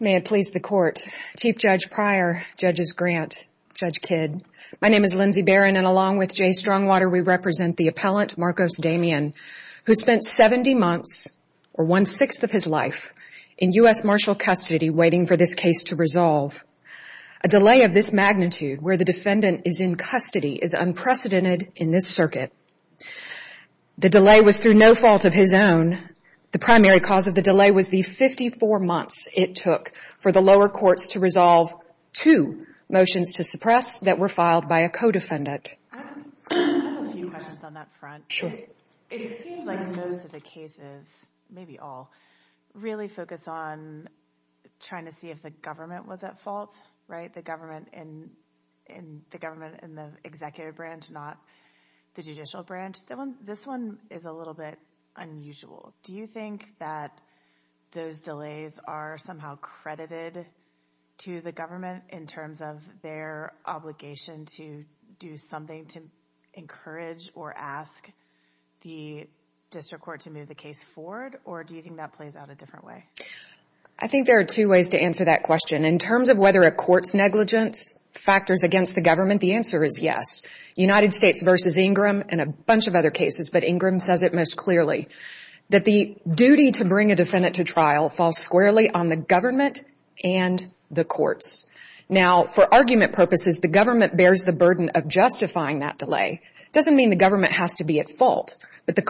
May it please the Court, Chief Judge Pryor, Judges Grant, Judge Kidd, my name is Lindsey Barron and along with Jay Strongwater we represent the appellant Marcos Damian who spent 70 months or one-sixth of his life in U.S. Marshal custody waiting for this case to resolve. A delay of this magnitude where the defendant is in custody is unprecedented in this circuit. The delay was through no fault of his own. The primary cause of the delay was the 54 months it took for the lower courts to resolve two motions to suppress that were filed by a co-defendant. I have a few questions on that front. It seems like most of the cases, maybe all, really focus on trying to see if the government was at fault, right? The government in the executive branch, not the judicial branch. This one is a little bit unusual. Do you think that those delays are somehow credited to the government in terms of their obligation to do something to encourage or ask the district court to move the case forward? Or do you think that plays out a different way? I think there are two ways to answer that question. In terms of whether a court's negligence factors against the government, the answer is yes. United States v. Ingram and a bunch of other cases, but Ingram says it most clearly, that the duty to bring a defendant to trial falls squarely on the government and the courts. Now, for argument purposes, the government bears the burden of justifying that delay. It doesn't mean the government has to be at fault. It's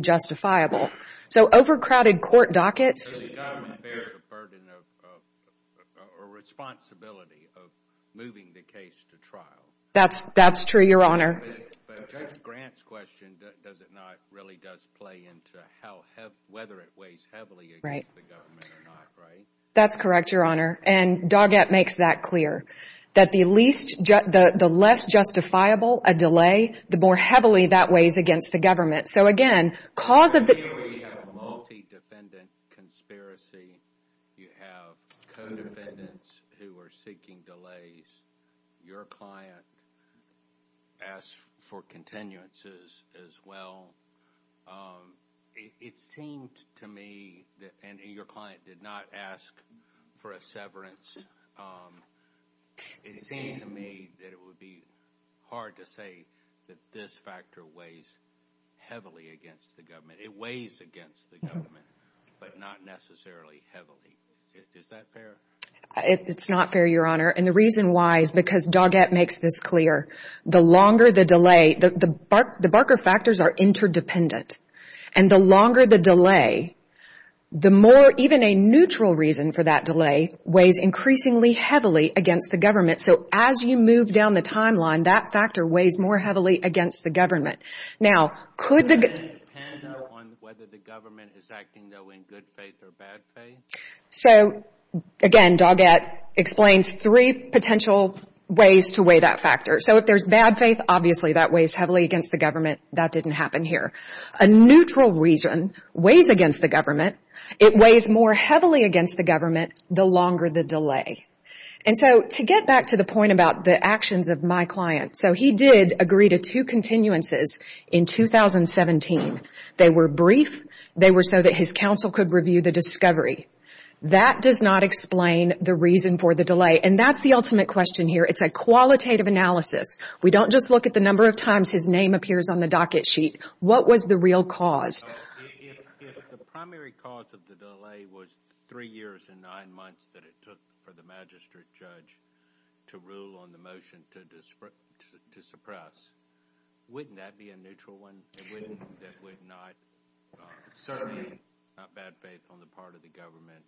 justifiable. So overcrowded court dockets... So the government bears the burden or responsibility of moving the case to trial. That's true, Your Honor. But Judge Grant's question, does it not really does play into whether it weighs heavily against the government or not, right? That's correct, Your Honor. And Doggett makes that clear. That the less justifiable a delay, the more heavily that weighs against the government. So again, cause of the... We have a multi-defendant conspiracy. You have co-defendants who are seeking delays. Your client asked for continuances as well. It seemed to me that... And your client did not ask for a severance. It seemed to me that it would be hard to say. That this factor weighs heavily against the government. It weighs against the government, but not necessarily heavily. Is that fair? It's not fair, Your Honor. And the reason why is because Doggett makes this clear. The longer the delay... The Barker factors are interdependent. And the longer the delay, the more even a neutral reason for that delay weighs increasingly heavily against the government. So as you move down the timeline, that factor weighs more heavily against the government. Now could the... Does it depend on whether the government is acting, though, in good faith or bad faith? So again, Doggett explains three potential ways to weigh that factor. So if there's bad faith, obviously that weighs heavily against the government. That didn't happen here. A neutral reason weighs against the government. It weighs more heavily against the government the longer the delay. And so to get back to the point about the actions of my client. So he did agree to two continuances in 2017. They were brief. They were so that his counsel could review the discovery. That does not explain the reason for the delay. And that's the ultimate question here. It's a qualitative analysis. We don't just look at the number of times his name appears on the Dockett sheet. What was the real cause? If the primary cause of the delay was three years and nine months that it took for the magistrate judge to rule on the motion to suppress, wouldn't that be a neutral one? That would not... Certainly not bad faith on the part of the government.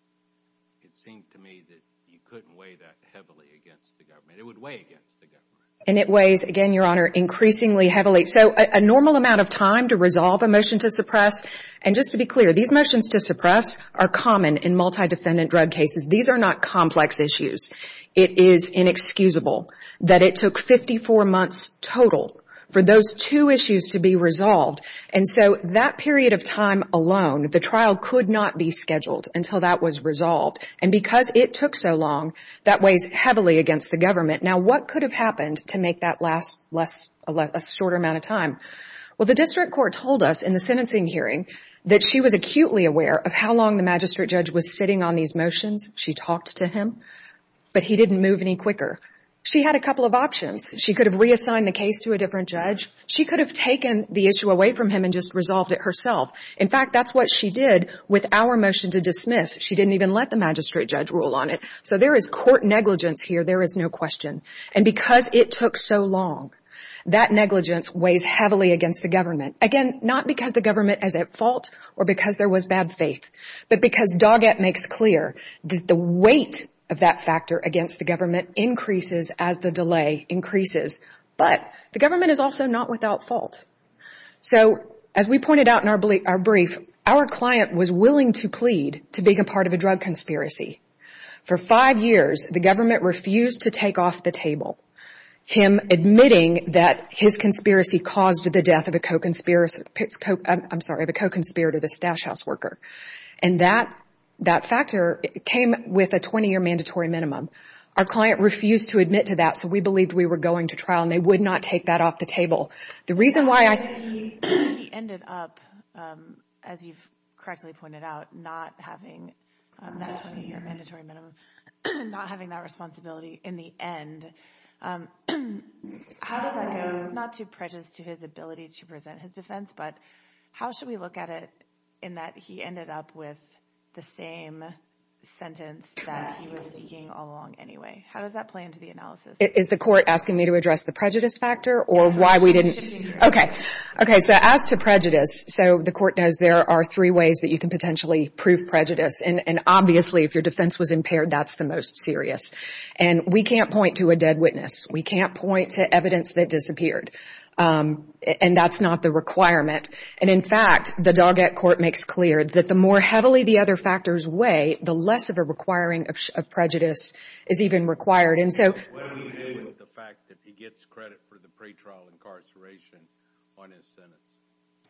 It seemed to me that you couldn't weigh that heavily against the government. It would weigh against the And it weighs, again, Your Honor, increasingly heavily. So a normal amount of time to resolve a motion to suppress. And just to be clear, these motions to suppress are common in multi-defendant drug cases. These are not complex issues. It is inexcusable that it took 54 months total for those two issues to be resolved. And so that period of time alone, the trial could not be scheduled until that was resolved. And because it took so long, that weighs heavily against the government. Now what could have happened to make that last a shorter amount of time? Well, the district court told us in the sentencing hearing that she was acutely aware of how long the magistrate judge was sitting on these motions. She talked to him, but he didn't move any quicker. She had a couple of options. She could have reassigned the case to a different judge. She could have taken the issue away from him and just resolved it herself. In fact, that's what she did with our motion to dismiss. She didn't even let the magistrate judge rule on it. So there is court negligence here, there is no question. And because it took so long, that negligence weighs heavily against the government. Again, not because the government is at fault or because there was bad faith, but because Doggett makes clear that the weight of that factor against the government increases as the delay increases. But the government is also not without fault. So as we pointed out in our brief, our client was willing to plead to being a part of a table, him admitting that his conspiracy caused the death of a co-conspirator, the stash house worker. And that factor came with a 20-year mandatory minimum. Our client refused to admit to that, so we believed we were going to trial, and they would not take that off the table. The reason why I... He ended up, as you've correctly pointed out, not having that 20-year mandatory minimum, not having that responsibility in the end. How does that go? Not too prejudiced to his ability to present his defense, but how should we look at it in that he ended up with the same sentence that he was seeking all along anyway? How does that play into the analysis? Is the court asking me to address the prejudice factor, or why we didn't... Okay, so as to prejudice, so the court knows there are three ways that you can potentially prove prejudice, and obviously if your defense was impaired, that's the most serious. And we can't point to a dead witness. We can't point to evidence that disappeared. And that's not the requirement. And in fact, the Doggett court makes clear that the more heavily the other factors weigh, the less of a requiring of prejudice is even required. What do we do with the fact that he gets credit for the pretrial incarceration on his sentence?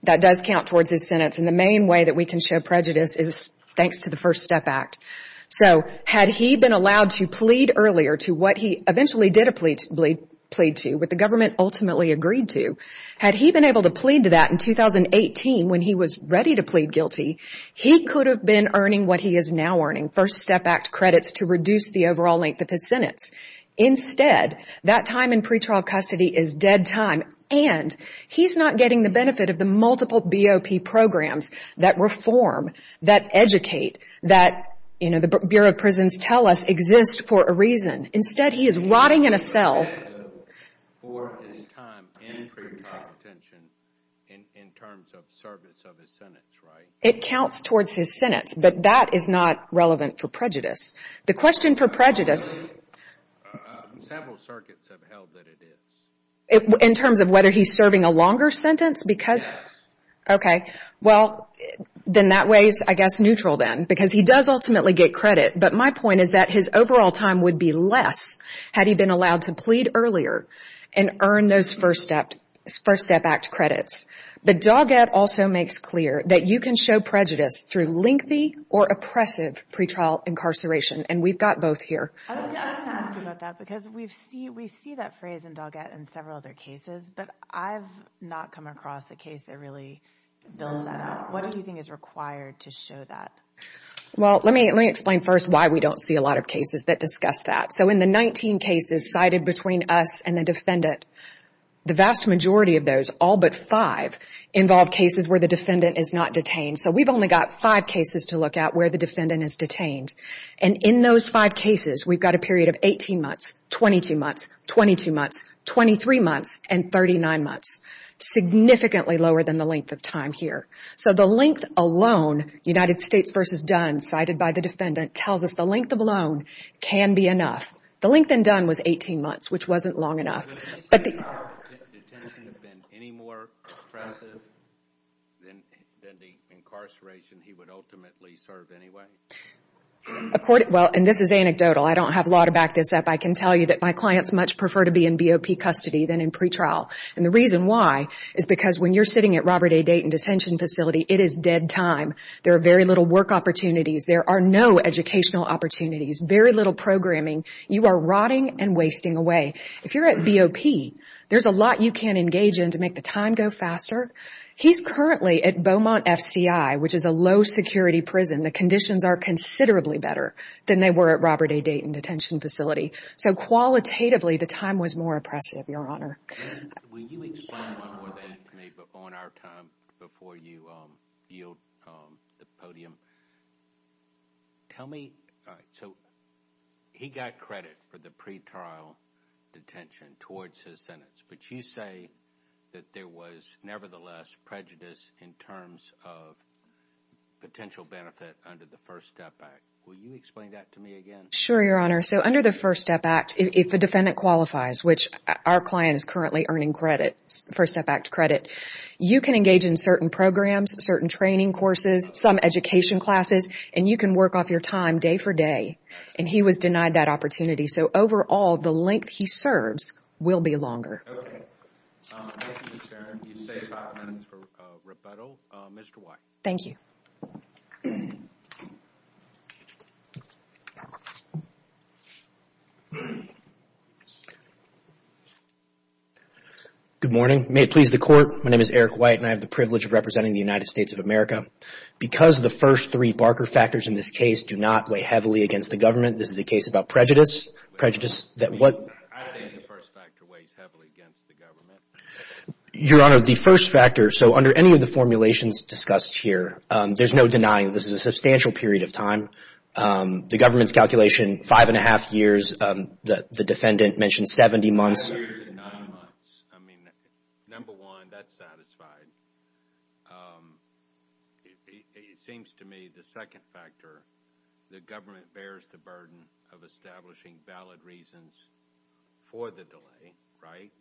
That does count towards his sentence, and the main way that we can show prejudice is thanks to the First Step Act. So, had he been allowed to plead earlier to what he eventually did plead to, what the government ultimately agreed to, had he been able to plead to that in 2018 when he was ready to plead guilty, he could have been earning what he is now earning, First Step Act credits to reduce the overall length of his sentence. Instead, that time in pretrial custody is dead time, and he's not getting the benefit of the multiple BOP programs that reform, that educate, that the Bureau of Prisons tell us exist for a reason. Instead, he is rotting in a cell. For his time in pretrial detention in terms of service of his sentence, right? It counts towards his sentence, but that is not relevant for prejudice. The question for prejudice... Several circuits have held that it is. In terms of whether he's serving a longer sentence? Yes. Well, then that way is, I guess, neutral then, because he does ultimately get credit, but my point is that his overall time would be less had he been allowed to plead earlier and earn those First Step Act credits. But Doggett also makes clear that you can show prejudice through lengthy or oppressive pretrial incarceration, and we've got both here. I was going to ask you about that, because we see that phrase in Doggett and several other cases, but I've not come across a case that really builds that out. What do you think is required to show that? Well, let me explain first why we don't see a lot of cases that discuss that. So in the 19 cases cited between us and the defendant, the vast majority of those, all but 5, involve cases where the defendant is not detained. So we've only got 5 cases to look at where the defendant is detained. And in those 5 cases, we've got a period of 18 months, 22 months, 22 months, 23 months, and 39 months. Significantly lower than the length of time here. So the length alone, United States v. Dunn, cited by the defendant, tells us the length of alone can be enough. The length in Dunn was 18 months, which wasn't long enough. Did detention have been any more oppressive than the incarceration he would ultimately serve anyway? Well, and this is anecdotal. I don't have law to back this up. I can tell you that my clients much prefer to be in BOP custody than in pretrial. And the reason why is because when you're sitting at Robert A. Dayton Detention Facility, it is dead time. There are very little work opportunities. There are no educational opportunities. Very little programming. You are rotting and wasting away. If you're at BOP, there's a lot you can engage in to make the time go faster. He's currently at Beaumont F.C.I., which is a low-security prison. The conditions are considerably better than they were at Robert A. Dayton Detention Facility. So qualitatively, the time was more oppressive, Your Honor. On our time before you yield the podium, tell me, so he got credit for the pretrial detention towards his sentence, but you say that there was nevertheless prejudice in terms of potential benefit under the First Step Act. Will you explain that to me again? Sure, Your Honor. So under the First Step Act, if a defendant qualifies, which our client is currently earning First Step Act credit, you can engage in certain programs, certain training courses, some education classes, and you can work off your time day for day. And he was denied that opportunity. So overall, the length he serves will be longer. Thank you, Ms. Barron. You've saved five minutes for rebuttal. Mr. White. Thank you. Good morning. May it please the Court, my name is Eric White and I have the privilege of representing the United States of America. Because the first three Barker factors in this case do not weigh heavily against the government, this is a case about prejudice. I don't think the first factor weighs heavily against the government. Your Honor, the first factor, so under any of the formulations discussed here, there's no denying this is a substantial period of time. The government's calculation, five and a half years, the defendant mentioned 70 months. I mean, number one, that's satisfied. It seems to me the second factor, the government bears the burden of establishing valid reasons for the delay, right?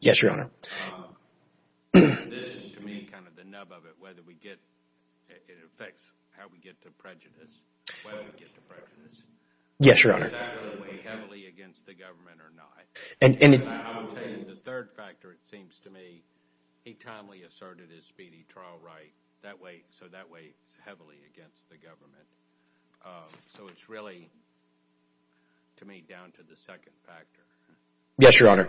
Yes, Your Honor. This is to me kind of the nub of it, whether we get – it affects how we get to prejudice, whether we get to prejudice. Yes, Your Honor. And I will tell you the third factor, it seems to me, he timely asserted his speedy trial right, so that weighs heavily against the government. So it's really, to me, down to the second factor. Yes, Your Honor.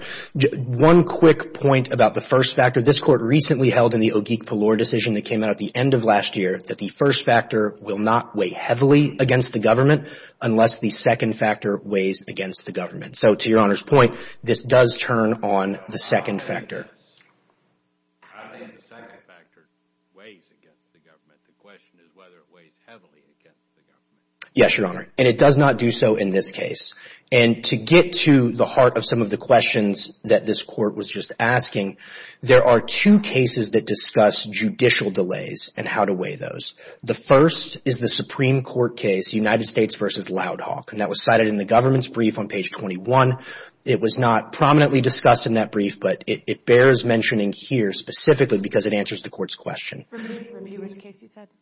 One quick point about the first factor. This Court recently held in the Ogeek-Pallor decision that came out at the end of last year that the first factor will not weigh heavily against the government unless the second factor weighs against the government. So to Your Honor's point, this does turn on the second factor. I think the second factor weighs against the government. The question is whether it weighs heavily against the government. Yes, Your Honor. And it does not do so in this case. And to get to the heart of some of the questions that this Court was just asking, there are two cases that discuss judicial delays and how to weigh those. The first is the Supreme Court case, United States v. Loud Hawk. And that was cited in the government's brief on page 21. It was not prominently discussed in that brief, but it bears mentioning here specifically because it answers the Court's question.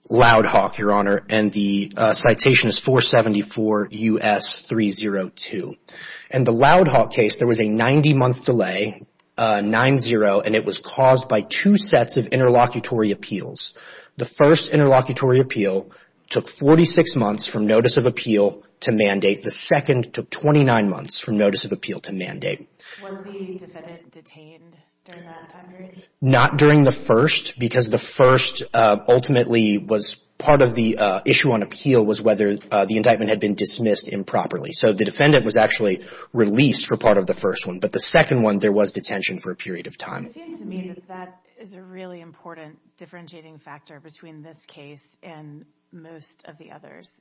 Loud Hawk, Your Honor, and the citation is 474 U.S. 302. In the Loud Hawk case, there was a 90-month delay, 9-0, and it was caused by two sets of interlocutory appeals. The first interlocutory appeal took 46 months from notice of appeal to mandate. The second took 29 months from notice of appeal to mandate. Was the defendant detained during that time period? Not during the first because the first ultimately was part of the issue on appeal was whether the indictment had been dismissed improperly. So the defendant was actually released for part of the first one. But the second one, there was detention for a period of time. It seems to me that that is a really important differentiating factor between this case and most of the others.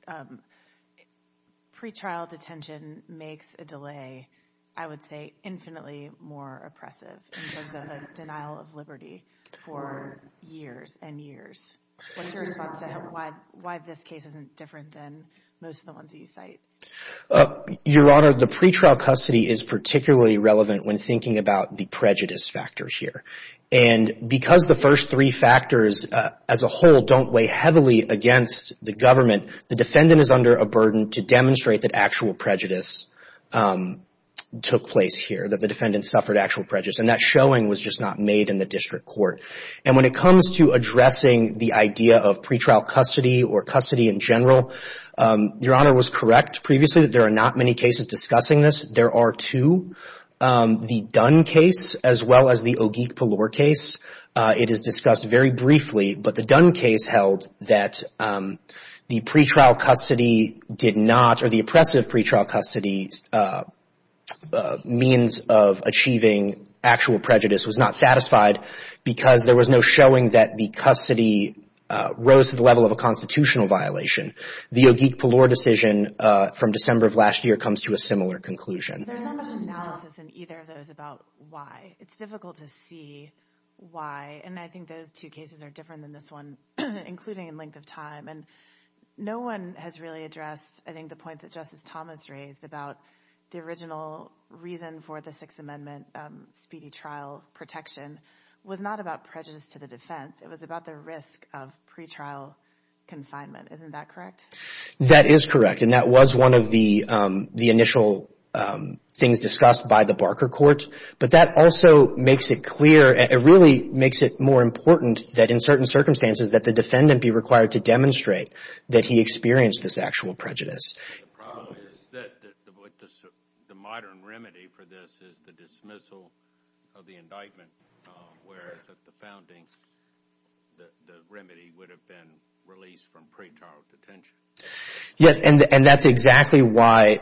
Pretrial detention makes a delay, I would say, infinitely more oppressive in terms of the denial of liberty for years and years. What's your response to why this case isn't different than most of the ones that you cite? Your Honor, the pretrial custody is particularly relevant when thinking about the prejudice factor here. And because the first three factors as a whole don't weigh heavily against the government, the defendant is under a burden to demonstrate that actual prejudice took place here, that the defendant suffered actual prejudice. And that showing was just not made in the district court. And when it comes to addressing the idea of pretrial custody or custody in general, Your Honor was correct previously that there are not many cases discussing this. There are two. The Dunn case as well as the Ogeek-Palore case, it is discussed very briefly. But the Dunn case held that the pretrial custody did not, or the oppressive pretrial custody means of achieving actual prejudice was not satisfied because there was no showing that the custody rose to the level of a constitutional violation. The Ogeek-Palore decision from December of last year comes to a similar conclusion. There's not much analysis in either of those about why. It's difficult to see why, and I think those two cases are different than this one, including in length of time. And no one has really addressed, I think, the points that Justice Thomas raised about the original reason for the Sixth Amendment speedy trial protection was not about prejudice to the defense. It was about the risk of pretrial confinement. Isn't that correct? That is correct, and that was one of the initial things discussed by the Barker Court. But that also makes it clear, it really makes it more important that in certain circumstances that the defendant be required to demonstrate that he experienced this actual prejudice. The problem is that the modern remedy for this is the dismissal of the indictment, whereas at the founding, the remedy would have been released from pretrial detention. Yes, and that's exactly why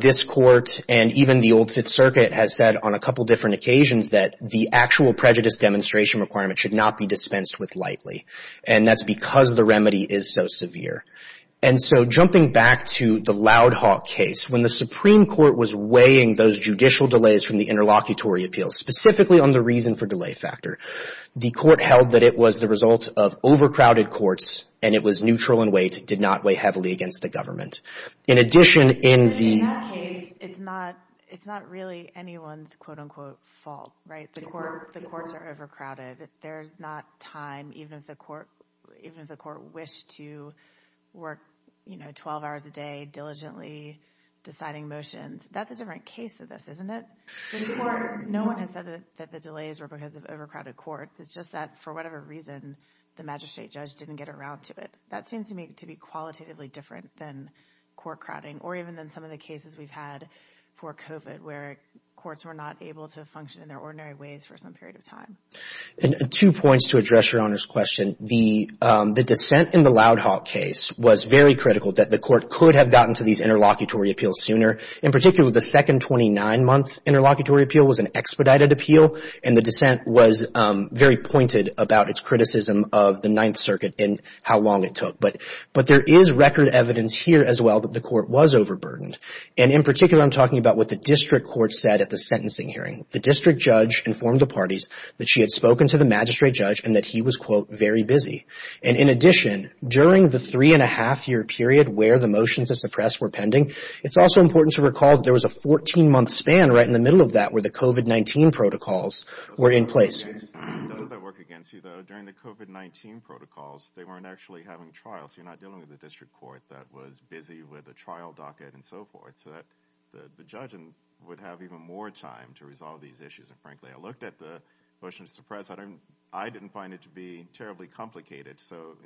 this Court and even the Old Fifth Circuit has said on a couple different occasions that the actual prejudice demonstration requirement should not be dispensed with lightly, and that's because the remedy is so severe. And so jumping back to the Loud Hawk case, when the Supreme Court was weighing those judicial delays from the interlocutory appeals, specifically on the reason for delay factor, the Court held that it was the result of overcrowded courts, and it was neutral in weight, did not weigh heavily against the government. In addition, in the... In that case, it's not really anyone's quote-unquote fault, right? The courts are overcrowded. There's not time, even if the court wished to work, you know, This Court, no one has said that the delays were because of overcrowded courts. It's just that, for whatever reason, the magistrate judge didn't get around to it. That seems to me to be qualitatively different than court crowding, or even than some of the cases we've had for COVID, where courts were not able to function in their ordinary ways for some period of time. And two points to address Your Honor's question. The dissent in the Loud Hawk case was very critical that the Court could have gotten to these interlocutory appeals sooner. In particular, the second 29-month interlocutory appeal was an expedited appeal, and the dissent was very pointed about its criticism of the Ninth Circuit and how long it took. But there is record evidence here as well that the Court was overburdened. And in particular, I'm talking about what the district court said at the sentencing hearing. The district judge informed the parties that she had spoken to the magistrate judge and that he was, quote, very busy. And in addition, during the three-and-a-half-year period where the motions to suppress were pending, it's also important to recall that there was a 14-month span right in the middle of that where the COVID-19 protocols were in place. Doesn't that work against you, though? During the COVID-19 protocols, they weren't actually having trials. You're not dealing with a district court that was busy with a trial docket and so forth. So the judge would have even more time to resolve these issues. And frankly, I looked at the motions to suppress. I didn't find it to be terribly complicated. So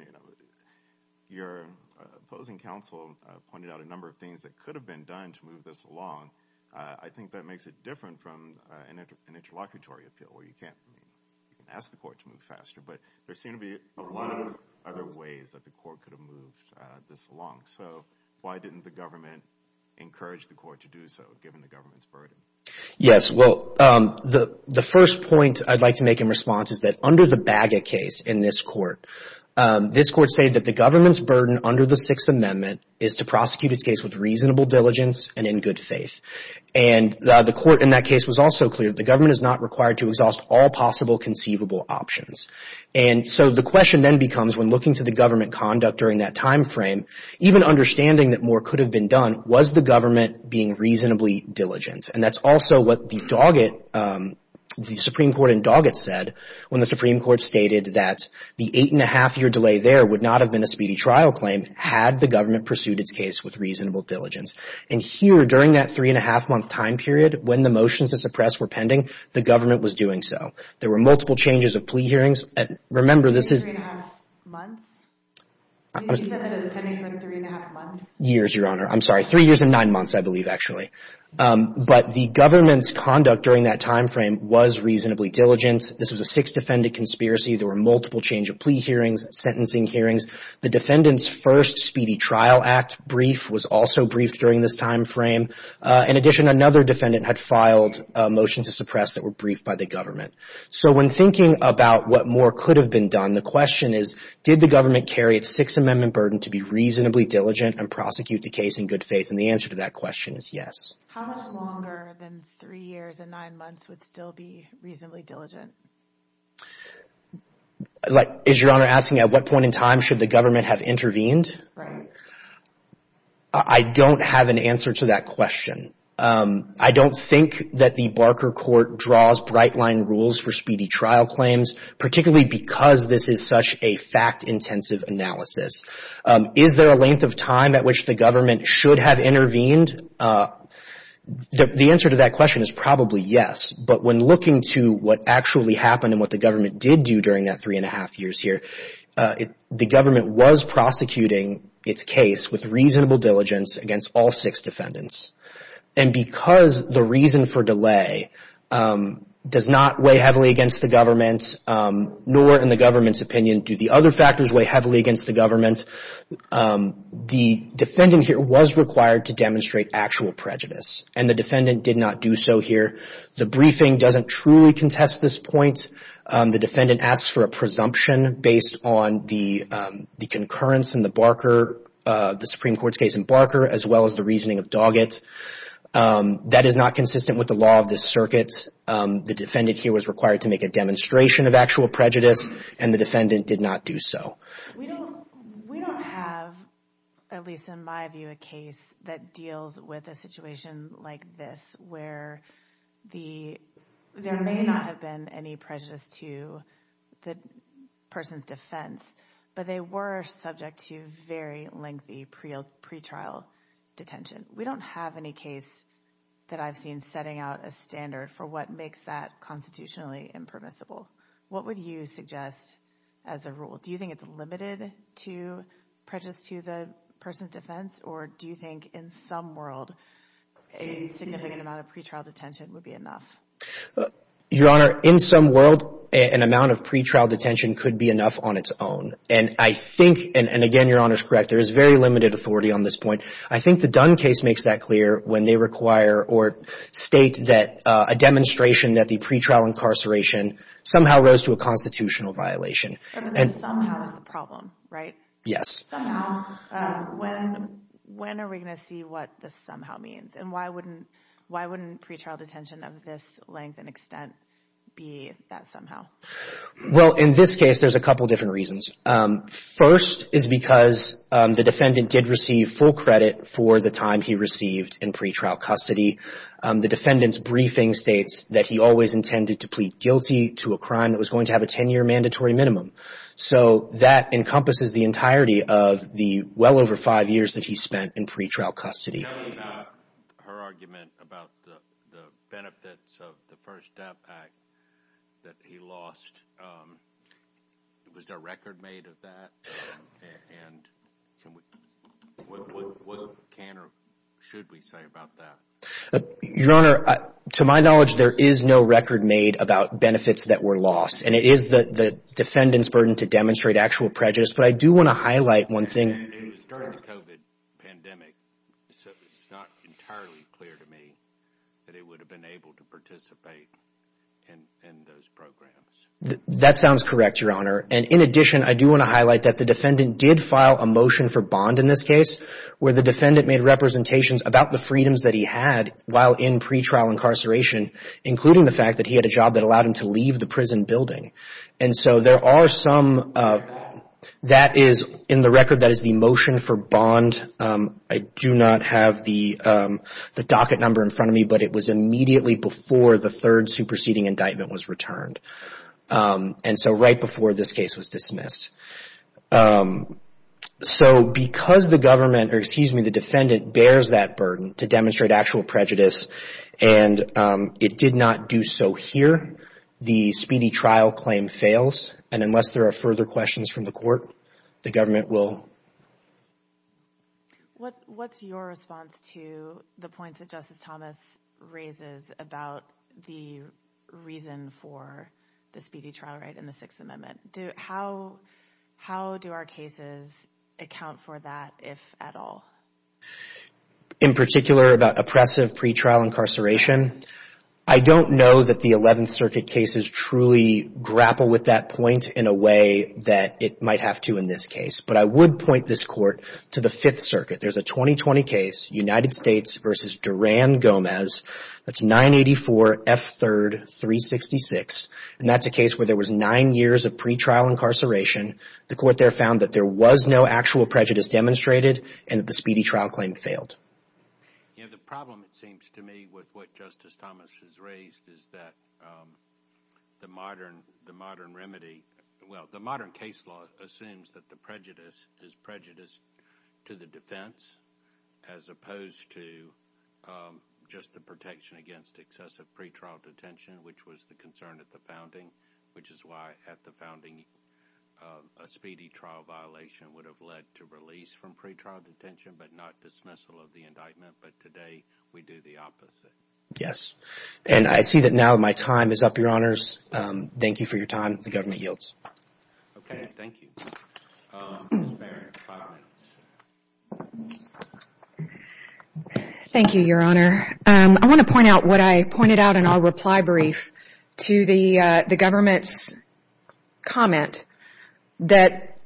your opposing counsel pointed out a number of things that could have been done to move this along. I think that makes it different from an interlocutory appeal where you can ask the court to move faster. But there seem to be a lot of other ways that the court could have moved this along. So why didn't the government encourage the court to do so, given the government's burden? Yes. Well, the first point I'd like to make in response is that under the Bagot case in this court, this court said that the government's burden under the Sixth Amendment is to prosecute its case with reasonable diligence and in good faith. And the court in that case was also clear that the government is not required to exhaust all possible conceivable options. And so the question then becomes when looking to the government conduct during that timeframe, even understanding that more could have been done, was the government being reasonably diligent? And that's also what the Supreme Court in Doggett said when the Supreme Court stated that the eight-and-a-half-year delay there would not have been a speedy trial claim had the government pursued its case with reasonable diligence. And here, during that three-and-a-half-month time period, when the motions to suppress were pending, the government was doing so. There were multiple changes of plea hearings. Remember, this is... Three-and-a-half months? You said that it was pending for three-and-a-half months? Years, Your Honor. I'm sorry. Three years and nine months, I believe, actually. But the government's conduct during that timeframe was reasonably diligent. This was a six-defendant conspiracy. There were multiple change of plea hearings, sentencing hearings. The defendant's first speedy trial act brief was also briefed during this timeframe. In addition, another defendant had filed motions to suppress that were briefed by the government. So when thinking about what more could have been done, the question is, did the government carry its Sixth Amendment burden to be reasonably diligent and prosecute the case in good faith? And the answer to that question is yes. How much longer than three years and nine months would still be reasonably diligent? Is Your Honor asking at what point in time should the government have intervened? Right. I don't have an answer to that question. I don't think that the Barker Court draws bright-line rules for speedy trial claims, particularly because this is such a fact-intensive analysis. Is there a length of time at which the government should have intervened? The answer to that question is probably yes. But when looking to what actually happened and what the government did do during that three-and-a-half years here, the government was prosecuting its case with reasonable diligence against all six defendants. And because the reason for delay does not weigh heavily against the government, nor in the government's opinion do the other factors weigh heavily against the government, the defendant here was required to demonstrate actual prejudice, and the defendant did not do so here. The briefing doesn't truly contest this point. The defendant asks for a presumption based on the concurrence in the Barker, the Supreme Court's case in Barker, as well as the reasoning of Doggett. That is not consistent with the law of this circuit. The defendant here was required to make a demonstration of actual prejudice, and the defendant did not do so. We don't have, at least in my view, a case that deals with a situation like this, where there may not have been any prejudice to the person's defense, but they were subject to very lengthy pretrial detention. We don't have any case that I've seen setting out a standard for what makes that constitutionally impermissible. What would you suggest as a rule? Do you think it's limited to prejudice to the person's defense, or do you think in some world a significant amount of pretrial detention would be enough? Your Honor, in some world, an amount of pretrial detention could be enough on its own. And I think, and again, Your Honor's correct, there is very limited authority on this point. I think the Dunn case makes that clear when they require or state that a demonstration that the pretrial incarceration somehow rose to a constitutional violation. But the somehow is the problem, right? Yes. Somehow. When are we going to see what the somehow means? And why wouldn't pretrial detention of this length and extent be that somehow? Well, in this case, there's a couple different reasons. First is because the defendant did receive full credit for the time he received in pretrial custody. The defendant's briefing states that he always intended to plead guilty to a crime that was going to have a 10-year mandatory minimum. So that encompasses the entirety of the well over five years that he spent in pretrial custody. Tell me about her argument about the benefits of the First Step Act that he lost. Was there a record made of that? And what can or should we say about that? Your Honor, to my knowledge, there is no record made about benefits that were lost. And it is the defendant's burden to demonstrate actual prejudice. But I do want to highlight one thing. It was during the COVID pandemic, so it's not entirely clear to me that he would have been able to participate in those programs. That sounds correct, Your Honor. And in addition, I do want to highlight that the defendant did file a motion for bond in this case, where the defendant made representations about the freedoms that he had while in pretrial incarceration, including the fact that he had a job that allowed him to leave the prison building. And so there are some, that is in the record, that is the motion for bond. I do not have the docket number in front of me, but it was immediately before the third superseding indictment was returned. And so right before this case was dismissed. So because the government, or excuse me, the defendant bears that burden to demonstrate actual prejudice, and it did not do so here, the speedy trial claim fails. And unless there are further questions from the court, the government will. What's your response to the points that Justice Thomas raises about the reason for the speedy trial right in the Sixth Amendment? How do our cases account for that, if at all? In particular, about oppressive pretrial incarceration, I don't know that the Eleventh Circuit cases truly grapple with that point in a way that it might have to in this case. But I would point this Court to the Fifth Circuit. There's a 2020 case, United States v. Duran-Gomez. That's 984 F. 3rd, 366. And that's a case where there was nine years of pretrial incarceration. The court there found that there was no actual prejudice demonstrated and that the speedy trial claim failed. You know, the problem, it seems to me, with what Justice Thomas has raised is that the modern remedy – well, the modern case law assumes that the prejudice is prejudice to the defense, as opposed to just the protection against excessive pretrial detention, which was the concern at the founding, which is why at the founding, a speedy trial violation would have led to release from pretrial detention, but not dismissal of the indictment. But today, we do the opposite. Yes, and I see that now my time is up, Your Honors. Thank you for your time. The government yields. Okay, thank you. Thank you, Your Honor. I want to point out what I pointed out in our reply brief to the government's comment that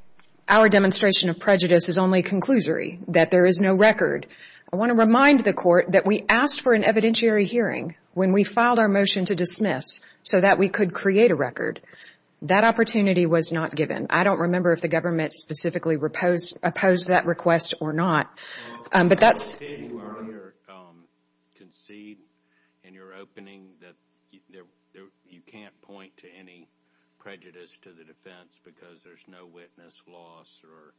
our demonstration of prejudice is only a conclusory, that there is no record. I want to remind the Court that we asked for an evidentiary hearing when we filed our motion to dismiss so that we could create a record. That opportunity was not given. I don't remember if the government specifically opposed that request or not. Did you earlier concede in your opening that you can't point to any prejudice to the defense because there's no witness loss or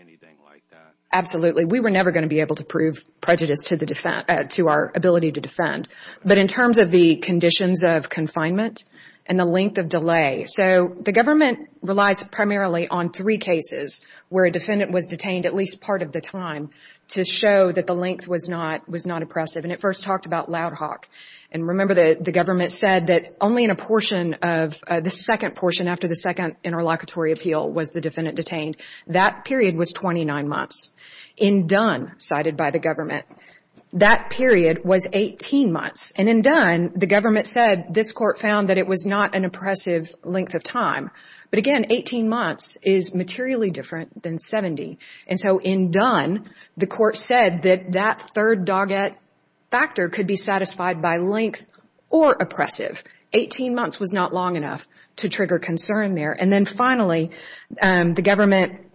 anything like that? Absolutely. We were never going to be able to prove prejudice to our ability to defend. But in terms of the conditions of confinement and the length of delay, so the government relies primarily on three cases where a defendant was detained at least part of the time to show that the length was not oppressive. And it first talked about Loud Hawk. And remember the government said that only in a portion of the second portion, after the second interlocutory appeal, was the defendant detained. That period was 29 months. In Dunn, cited by the government, that period was 18 months. And in Dunn, the government said this court found that it was not an oppressive length of time. But again, 18 months is materially different than 70. And so in Dunn, the court said that that third dogged factor could be satisfied by length or oppressive. Eighteen months was not long enough to trigger concern there. And then finally, the government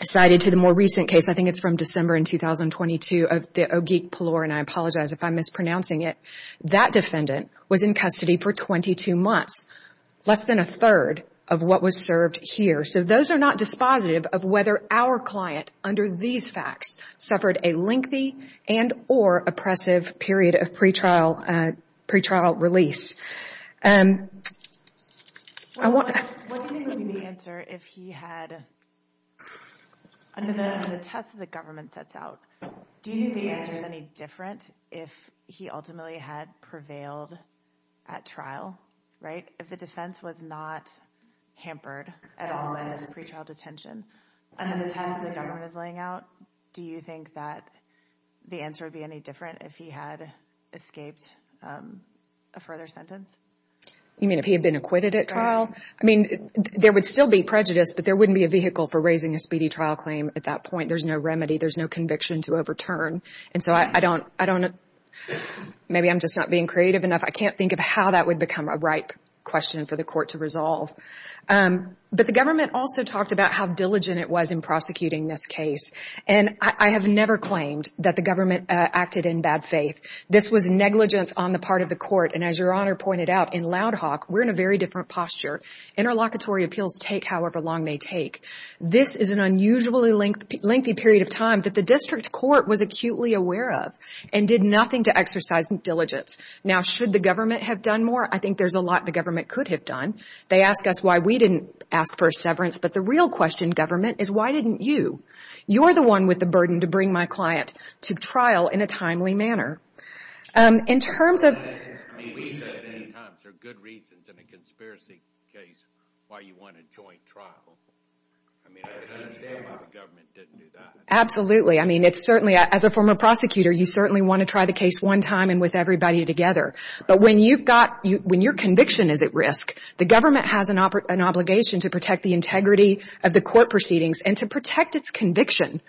cited to the more recent case, I think it's from December in 2022, of the Ogeek-Palour, and I apologize if I'm mispronouncing it. That defendant was in custody for 22 months, less than a third of what was served here. So those are not dispositive of whether our client, under these facts, suffered a lengthy and or oppressive period of pretrial release. What do you think would be the answer if he had, under the test the government sets out, do you think the answer is any different if he ultimately had prevailed at trial, right? If the defense was not hampered at all by this pretrial detention, under the test the government is laying out, do you think that the answer would be any different if he had escaped a further sentence? You mean if he had been acquitted at trial? I mean, there would still be prejudice, but there wouldn't be a vehicle for raising a speedy trial claim at that point. There's no remedy. There's no conviction to overturn. And so I don't, I don't, maybe I'm just not being creative enough. I can't think of how that would become a ripe question for the court to resolve. But the government also talked about how diligent it was in prosecuting this case. And I have never claimed that the government acted in bad faith. This was negligence on the part of the court. And as Your Honor pointed out, in Loud Hawk, we're in a very different posture. Interlocutory appeals take however long they take. This is an unusually lengthy period of time that the district court was acutely aware of and did nothing to exercise diligence. Now, should the government have done more? I think there's a lot the government could have done. They ask us why we didn't ask for a severance, but the real question, government, is why didn't you? You're the one with the burden to bring my client to trial in a timely manner. In terms of... We said many times there are good reasons in a conspiracy case why you want a joint trial. I mean, I understand why the government didn't do that. Absolutely. I mean, it's certainly, as a former prosecutor, you certainly want to try the case one time and with everybody together. But when you've got, when your conviction is at risk, the government has an obligation to protect the integrity of the court proceedings and to protect its conviction.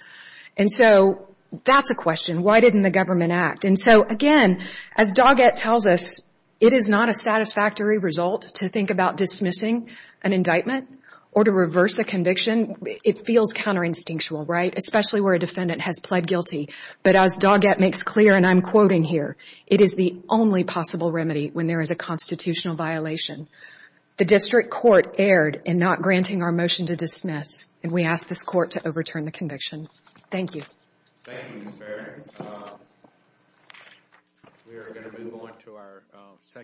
And so that's a question. Why didn't the government act? And so, again, as Doggett tells us, it is not a satisfactory result to think about dismissing an indictment or to reverse a conviction. It feels counter-instinctual, right, especially where a defendant has pled guilty. But as Doggett makes clear, and I'm quoting here, it is the only possible remedy when there is a constitutional violation. The district court erred in not granting our motion to dismiss, and we ask this court to overturn the conviction. Thank you. Thank you, Ms. Barrett. We are going to move on to our second.